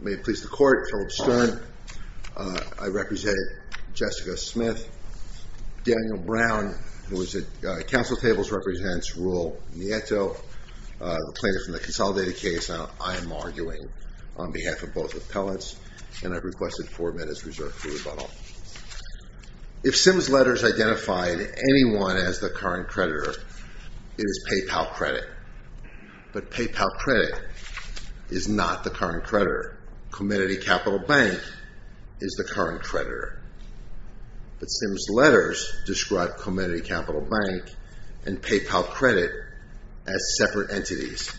May it please the Court, Philip Stern. I represent Jessica Smith. Daniel Brown, who is at Council Tables, represents Roel Nieto, the plaintiff in the consolidated case. I am arguing on behalf of both appellants, and I've requested four minutes reserved for rebuttal. If Simm's letters identified anyone as the current creditor, it is PayPal Credit. But PayPal Credit is not the current creditor. Comenity Capital Bank is the current creditor. But Simm's letters describe Comenity Capital Bank and PayPal Credit as separate entities.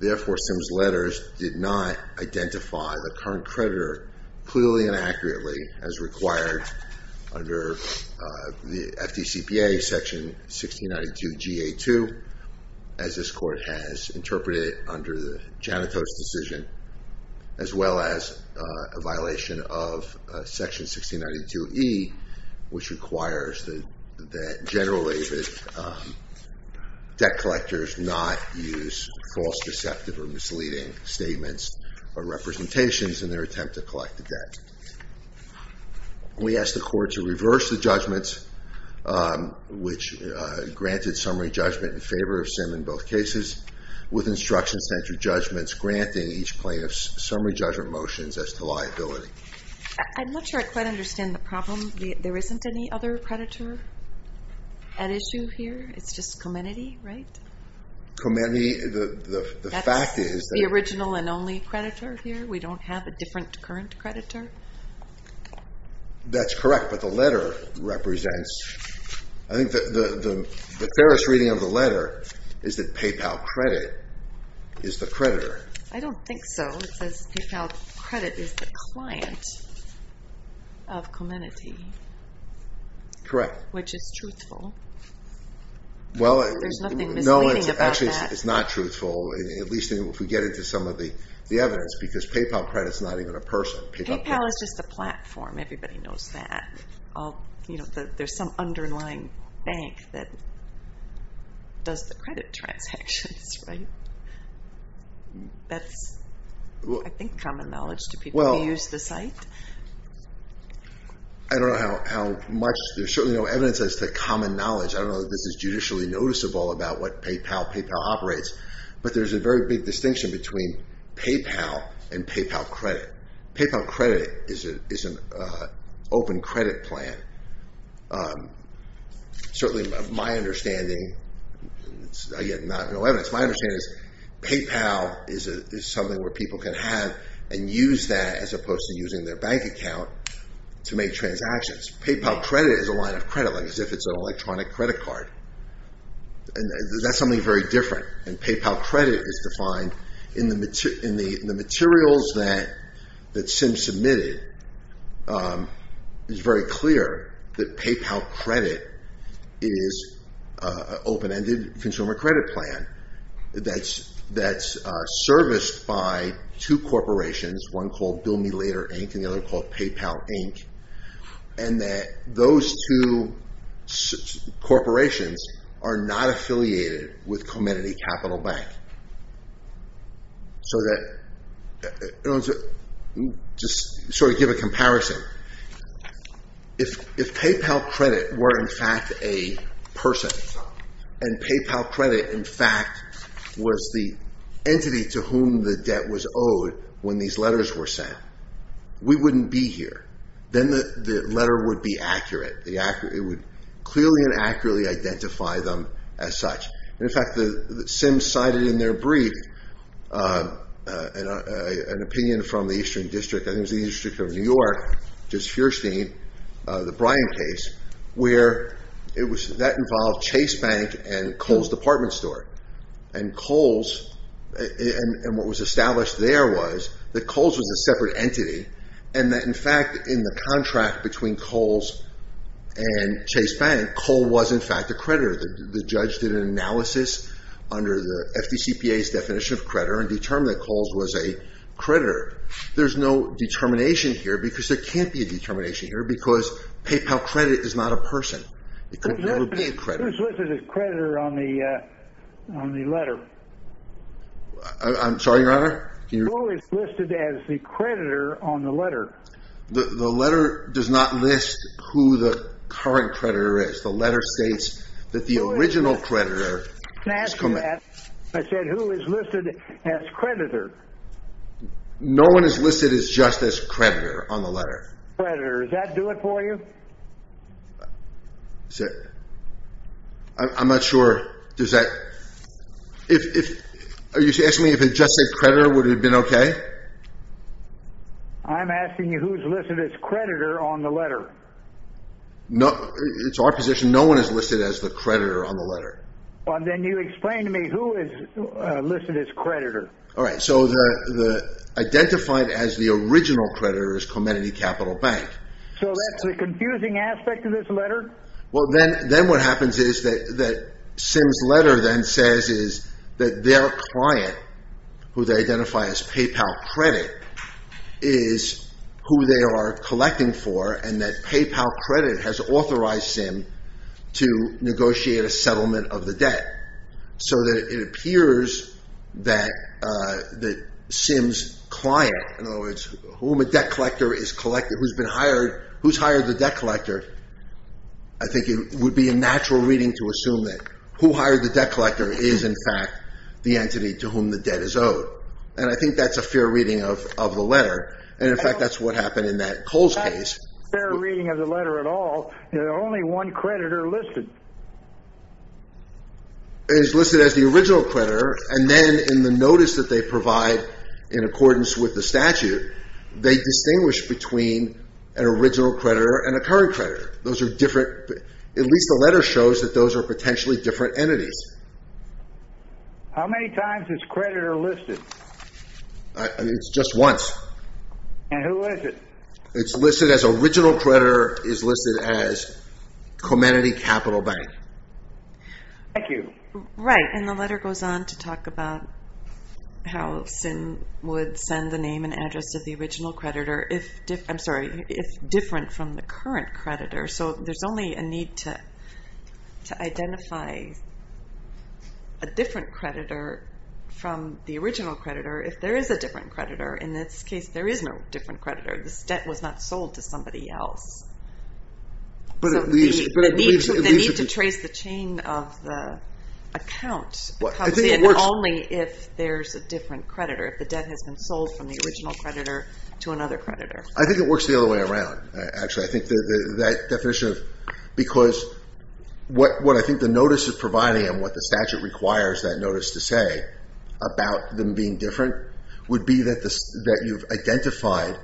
Therefore, Simm's letters did not identify the current creditor, clearly and accurately, as required under the FDCPA Section 1692 G.A. 2, as this Court has interpreted under the Janito's decision, as well as a violation of Section 1692 E, which requires that generally debt collectors not use false, deceptive, or misleading statements or representations in their attempt to collect the debt. We ask the Court to reverse the judgment, which granted summary judgment in favor of Simm in both cases, with instruction-centered judgments granting each plaintiff's summary judgment motions as to liability. I'm not sure I quite understand the problem. There isn't any other creditor at issue here? It's just Comenity, right? Comenity, the fact is... That's the original and only creditor here? We don't have a different current creditor? That's correct, but the letter represents... I think the fairest reading of the letter is that PayPal Credit is the creditor. I don't think so. It says PayPal Credit is the client of Comenity. Correct. Which is truthful. There's nothing misleading about that. Actually, it's not truthful, at least if we get into some of the evidence, because PayPal Credit is not even a person. PayPal is just a platform. Everybody knows that. There's some underlying bank that does the credit transactions, right? That's, I think, common knowledge to people who use the site. I don't know how much... There's certainly no evidence as to common knowledge. I don't know that this is judicially noticeable about what PayPal operates. But there's a very big distinction between PayPal and PayPal Credit. PayPal Credit is an open credit plan. Certainly, my understanding is PayPal is something where people can have and use that as opposed to using their bank account to make transactions. PayPal Credit is a line of credit, as if it's an electronic credit card. That's something very different. PayPal Credit is defined in the materials that Sim submitted. It's very clear that PayPal Credit is an open-ended consumer credit plan that's serviced by two corporations, one called Bill Me Later, Inc., and the other called PayPal, Inc., and that those two corporations are not affiliated with Comenity Capital Bank. Just to give a comparison, if PayPal Credit were, in fact, a person, and PayPal Credit, in fact, was the entity to whom the debt was owed when these letters were sent, we wouldn't be here. Then the letter would be accurate. It would clearly and accurately identify them as such. In fact, Sim cited in their brief an opinion from the Eastern District, I think it was the Eastern District of New York, which is Feuerstein, the Bryan case, where that involved Chase Bank and Kohl's Department Store. What was established there was that Kohl's was a separate entity and that, in fact, in the contract between Kohl's and Chase Bank, Kohl was, in fact, a creditor. The judge did an analysis under the FDCPA's definition of creditor and determined that Kohl's was a creditor. There's no determination here because there can't be a determination here because PayPal Credit is not a person. It could never be a creditor. Who's listed as creditor on the letter? I'm sorry, Your Honor? Who is listed as the creditor on the letter? The letter does not list who the current creditor is. The letter states that the original creditor is Comenity. Can I ask you that? I said, who is listed as creditor? No one is listed just as creditor on the letter. Creditor. Does that do it for you? I'm not sure. Are you asking me if it just said creditor, would it have been okay? I'm asking you who's listed as creditor on the letter. It's our position no one is listed as the creditor on the letter. Then you explain to me who is listed as creditor. Identified as the original creditor is Comenity Capital Bank. So that's the confusing aspect of this letter? Then what happens is that Sim's letter then says that their client, who they identify as PayPal Credit, is who they are collecting for and that PayPal Credit has authorized Sim to negotiate a settlement of the debt. So that it appears that Sim's client, in other words, whom a debt collector is collecting, who's been hired, who's hired the debt collector, I think it would be a natural reading to assume that who hired the debt collector is, in fact, the entity to whom the debt is owed. And I think that's a fair reading of the letter. And, in fact, that's what happened in Cole's case. It's not a fair reading of the letter at all. There's only one creditor listed. It is listed as the original creditor. And then in the notice that they provide in accordance with the statute, they distinguish between an original creditor and a current creditor. Those are different. At least the letter shows that those are potentially different entities. How many times is creditor listed? It's just once. And who is it? It's listed as original creditor is listed as Comenity Capital Bank. Thank you. Right, and the letter goes on to talk about how Sim would send the name and address of the original creditor if different from the current creditor. So there's only a need to identify a different creditor from the original creditor if there is a different creditor. In this case, there is no different creditor. This debt was not sold to somebody else. But it leaves... The need to trace the chain of the account comes in only if there's a different creditor, if the debt has been sold from the original creditor to another creditor. I think it works the other way around, actually. I think that definition of... Because what I think the notice is providing and what the statute requires that notice to say about them being different would be that you've identified...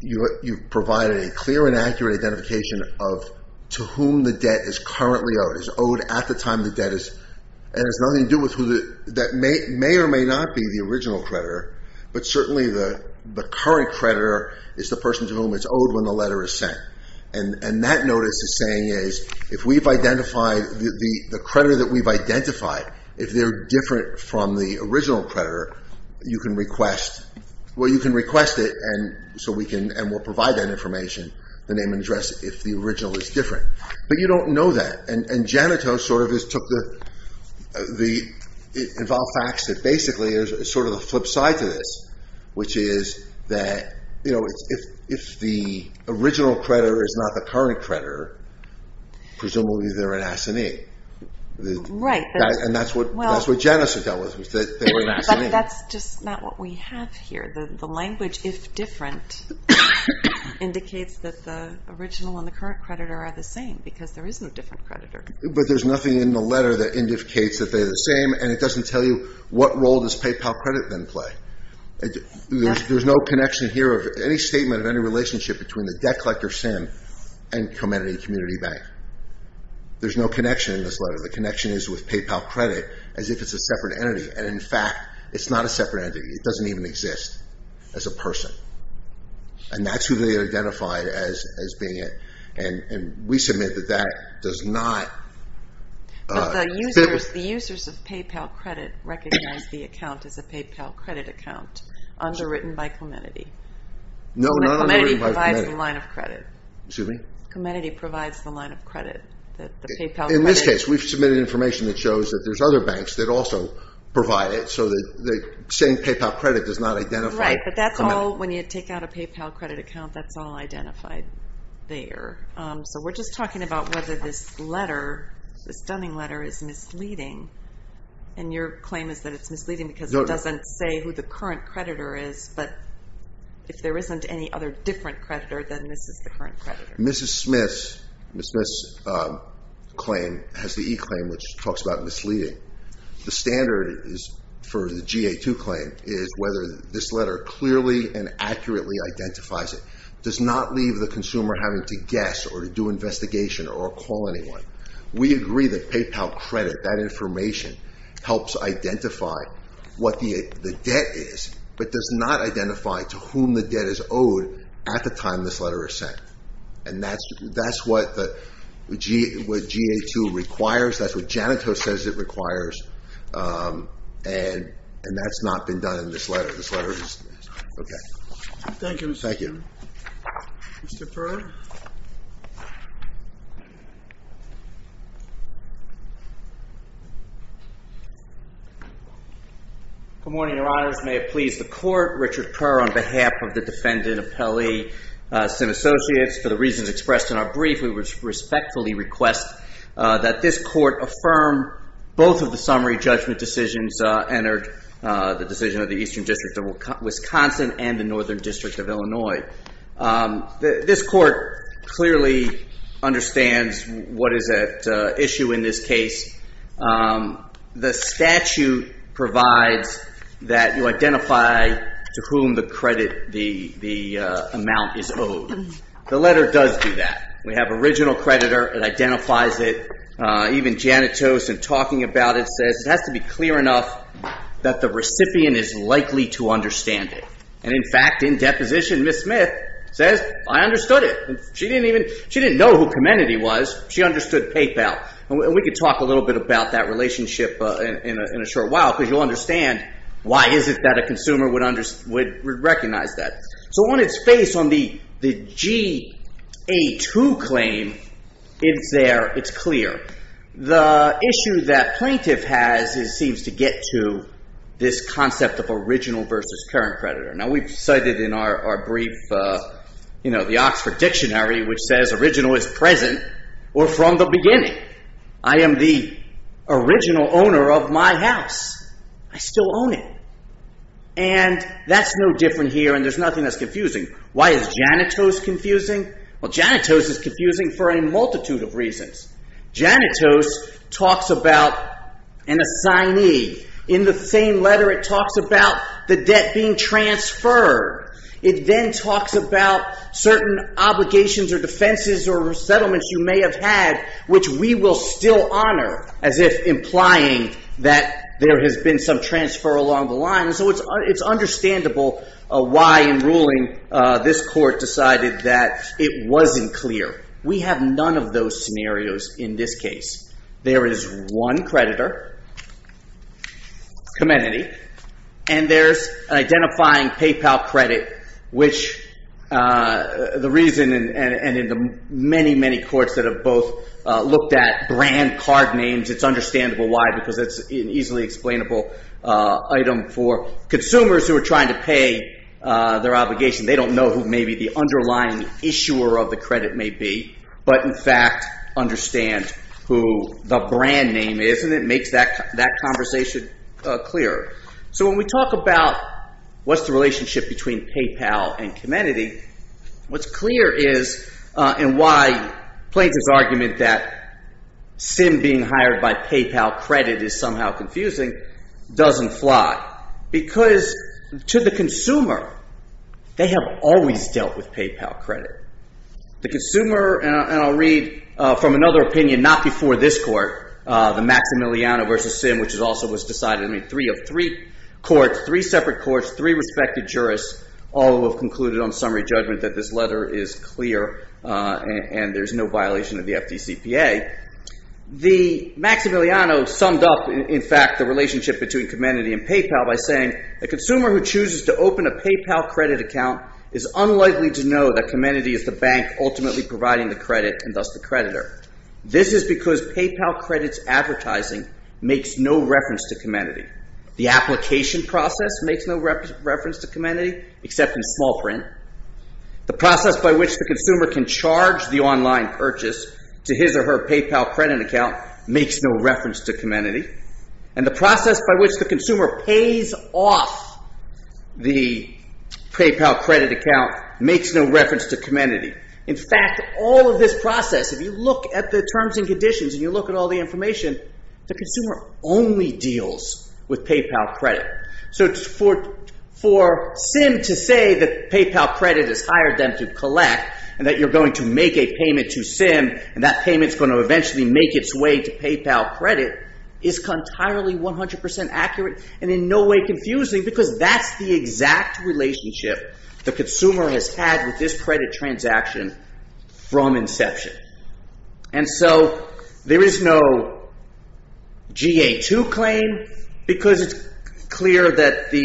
You've provided a clear and accurate identification of to whom the debt is currently owed. It's owed at the time the debt is... And it has nothing to do with who the... That may or may not be the original creditor, but certainly the current creditor is the person to whom it's owed when the letter is sent. And that notice is saying is, if we've identified... The creditor that we've identified, if they're different from the original creditor, you can request... Well, you can request it and so we can... And we'll provide that information, the name and address, if the original is different. But you don't know that. And Janito sort of just took the... It involved facts that basically is sort of the flip side to this, which is that if the original creditor is not the current creditor, presumably they're an S&E. Right. And that's what Janice had dealt with, was that they were an S&E. But that's just not what we have here. The language, if different, indicates that the original and the current creditor are the same because there is no different creditor. But there's nothing in the letter that indicates that they're the same and it doesn't tell you what role does PayPal Credit then play. There's no connection here of any statement of any relationship between the debt collector SIM and Clementi Community Bank. There's no connection in this letter. The connection is with PayPal Credit as if it's a separate entity. And, in fact, it's not a separate entity. It doesn't even exist as a person. And that's who they identified as being it. And we submit that that does not... But the users of PayPal Credit recognize the account as a PayPal Credit account underwritten by Clementi. No, not underwritten by Clementi. Clementi provides the line of credit. Excuse me? Clementi provides the line of credit, the PayPal Credit. In this case, we've submitted information that shows that there's other banks that also provide it so that saying PayPal Credit does not identify Clementi. Right, but that's all, when you take out a PayPal Credit account, that's all identified there. So we're just talking about whether this letter, this Dunning letter, is misleading. And your claim is that it's misleading because it doesn't say who the current creditor is, but if there isn't any other different creditor, then this is the current creditor. Mrs. Smith's claim has the e-claim, which talks about misleading. The standard for the GA2 claim is whether this letter clearly and accurately identifies it. It does not leave the consumer having to guess or to do an investigation or call anyone. We agree that PayPal Credit, that information, helps identify what the debt is but does not identify to whom the debt is owed at the time this letter is sent. And that's what the GA2 requires. That's what Janito says it requires. And that's not been done in this letter. This letter is, okay. Thank you, Mr. Perreault. Thank you. Mr. Perreault? Good morning, Your Honors. May it please the Court. Richard Perreault, on behalf of the defendant of Pelley, Senate Associates, for the reasons expressed in our brief, we would respectfully request that this Court affirm both of the summary judgment decisions and the decision of the Eastern District of Wisconsin and the Northern District of Illinois. This Court clearly understands what is at issue in this case. The statute provides that you identify to whom the credit, the amount is owed. The letter does do that. We have original creditor. It identifies it. Even Janitose in talking about it says it has to be clear enough that the recipient is likely to understand it. And in fact, in deposition, Ms. Smith says, I understood it. She didn't know who Comenity was. She understood PayPal. And we can talk a little bit about that relationship in a short while because you'll understand why is it that a consumer would recognize that. So on its face, on the GA2 claim, it's there. It's clear. The issue that plaintiff has seems to get to this concept of original versus current creditor. Now, we've cited in our brief the Oxford Dictionary, which says original is present or from the beginning. I am the original owner of my house. I still own it. And that's no different here, and there's nothing that's confusing. Why is Janitose confusing? Well, Janitose is confusing for a multitude of reasons. Janitose talks about an assignee. In the same letter, it talks about the debt being transferred. It then talks about certain obligations or defenses or settlements you may have had, which we will still honor as if implying that there has been some transfer along the line. So it's understandable why in ruling this court decided that it wasn't clear. We have none of those scenarios in this case. There is one creditor, Comenity, and there's an identifying PayPal credit, which the reason and in the many, many courts that have both looked at brand card names, it's understandable why because it's an easily explainable item for consumers who are trying to pay their obligation. They don't know who maybe the underlying issuer of the credit may be, but in fact understand who the brand name is, and it makes that conversation clearer. So when we talk about what's the relationship between PayPal and Comenity, what's clear is and why Plaintiff's argument that Sim being hired by PayPal credit is somehow confusing doesn't fly, because to the consumer, they have always dealt with PayPal credit. The consumer, and I'll read from another opinion not before this court, the Maximiliano v. Sim, which also was decided in three of three courts, three separate courts, three respected jurists, all who have concluded on summary judgment that this letter is clear and there's no violation of the FDCPA. The Maximiliano summed up, in fact, the relationship between Comenity and PayPal by saying, a consumer who chooses to open a PayPal credit account is unlikely to know that Comenity is the bank ultimately providing the credit and thus the creditor. This is because PayPal credits advertising makes no reference to Comenity. The application process makes no reference to Comenity except in small print. The process by which the consumer can charge the online purchase to his or her PayPal credit account makes no reference to Comenity. And the process by which the consumer pays off the PayPal credit account makes no reference to Comenity. In fact, all of this process, if you look at the terms and conditions and you look at all the information, the consumer only deals with PayPal credit. So for Sim to say that PayPal credit has hired them to collect and that you're going to make a payment to Sim and that payment's going to eventually make its way to PayPal credit is entirely 100% accurate and in no way confusing because that's the exact relationship the consumer has had with this credit transaction from inception. And so there is no GA2 claim because it's clear that the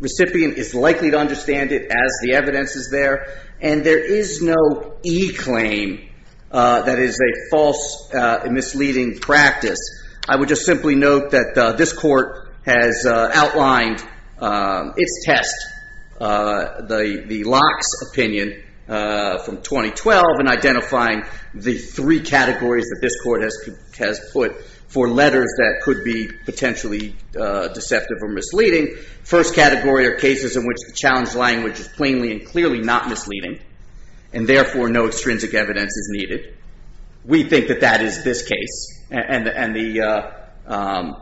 recipient is likely to understand it as the evidence is there and there is no e-claim that is a false and misleading practice. I would just simply note that this court has outlined its test, the Locke's opinion from 2012 in identifying the three categories that this court has put for letters that could be potentially deceptive or misleading. First category are cases in which the challenge language is plainly and clearly not misleading and therefore no extrinsic evidence is needed. We think that that is this case and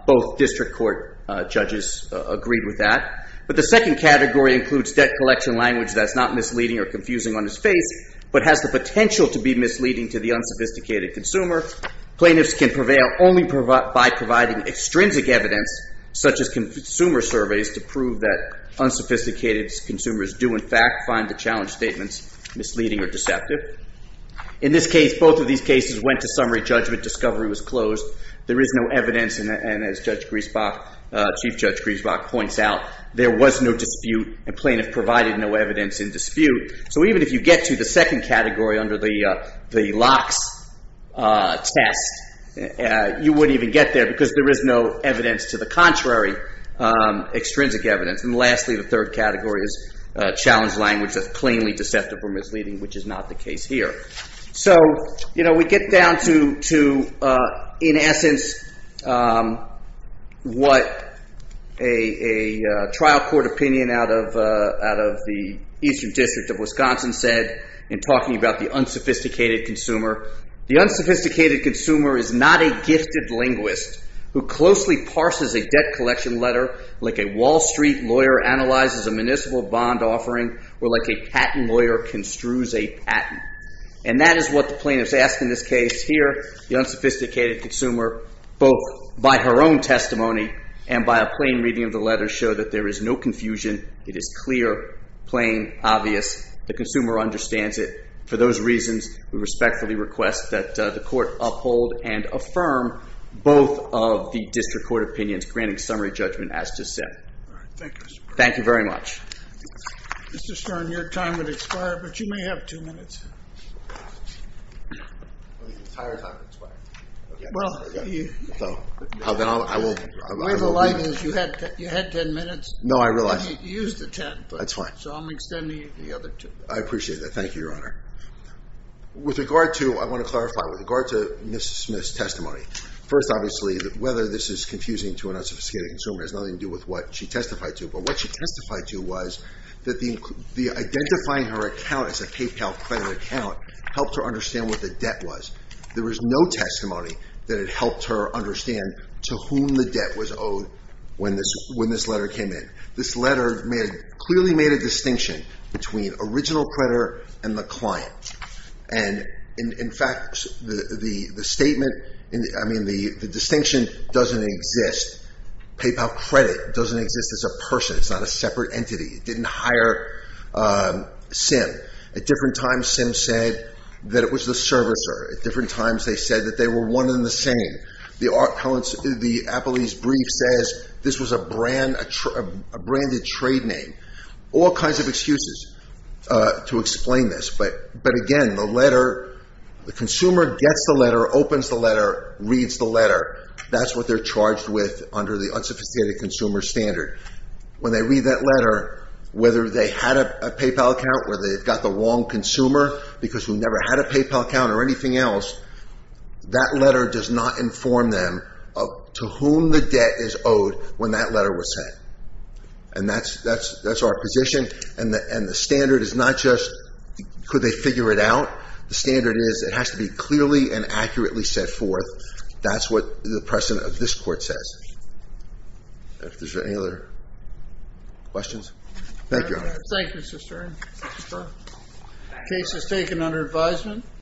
both district court judges agreed with that. But the second category includes debt collection language that's not misleading or confusing on its face but has the potential to be misleading to the unsophisticated consumer. Plaintiffs can prevail only by providing extrinsic evidence such as consumer surveys to prove that unsophisticated consumers do in fact find the challenge statements misleading or deceptive. In this case, both of these cases went to summary judgment, discovery was closed, there is no evidence and as Chief Judge Griesbach points out, there was no dispute and plaintiff provided no evidence in dispute. So even if you get to the second category under the Locke's test, you wouldn't even get there because there is no evidence to the contrary, extrinsic evidence. And lastly, the third category is challenge language that's plainly deceptive or misleading which is not the case here. So we get down to, in essence, what a trial court opinion out of the Eastern District of Wisconsin said in talking about the unsophisticated consumer. The unsophisticated consumer is not a gifted linguist who closely parses a debt collection letter like a Wall Street lawyer analyzes a municipal bond offering or like a patent lawyer construes a patent. And that is what the plaintiffs asked in this case here. The unsophisticated consumer, both by her own testimony and by a plain reading of the letter, showed that there is no confusion. It is clear, plain, obvious. The consumer understands it. For those reasons, we respectfully request that the court uphold and affirm both of the district court opinions, granting summary judgment as just said. Thank you very much. Mr. Stern, your time has expired, but you may have two minutes. The way of the line is you had ten minutes. No, I realize. You used the ten. That's fine. I appreciate that. Thank you, Your Honor. With regard to, I want to clarify, with regard to Ms. Smith's testimony, first, obviously, whether this is confusing to an unsophisticated consumer has nothing to do with what she testified to. But what she testified to was that the identifying her account as a PayPal credit account helped her understand what the debt was. There was no testimony that it helped her understand to whom the debt was owed when this letter came in. This letter clearly made a distinction between original creditor and the client. And, in fact, the statement, I mean, the distinction doesn't exist. PayPal credit doesn't exist as a person. It's not a separate entity. It didn't hire Sim. At different times, Sim said that it was the servicer. At different times, they said that they were one and the same. The appellee's brief says this was a branded trade name. All kinds of excuses to explain this. But, again, the letter, the consumer gets the letter, opens the letter, reads the letter. That's what they're charged with under the unsophisticated consumer standard. When they read that letter, whether they had a PayPal account, whether they've got the wrong consumer, because we never had a PayPal account or anything else, that letter does not inform them to whom the debt is owed when that letter was sent. And that's our position. And the standard is not just could they figure it out. The standard is it has to be clearly and accurately set forth. That's what the precedent of this court says. If there's any other questions. Thank you, Your Honor. Thank you, Mr. Stern. The case is taken under advisement.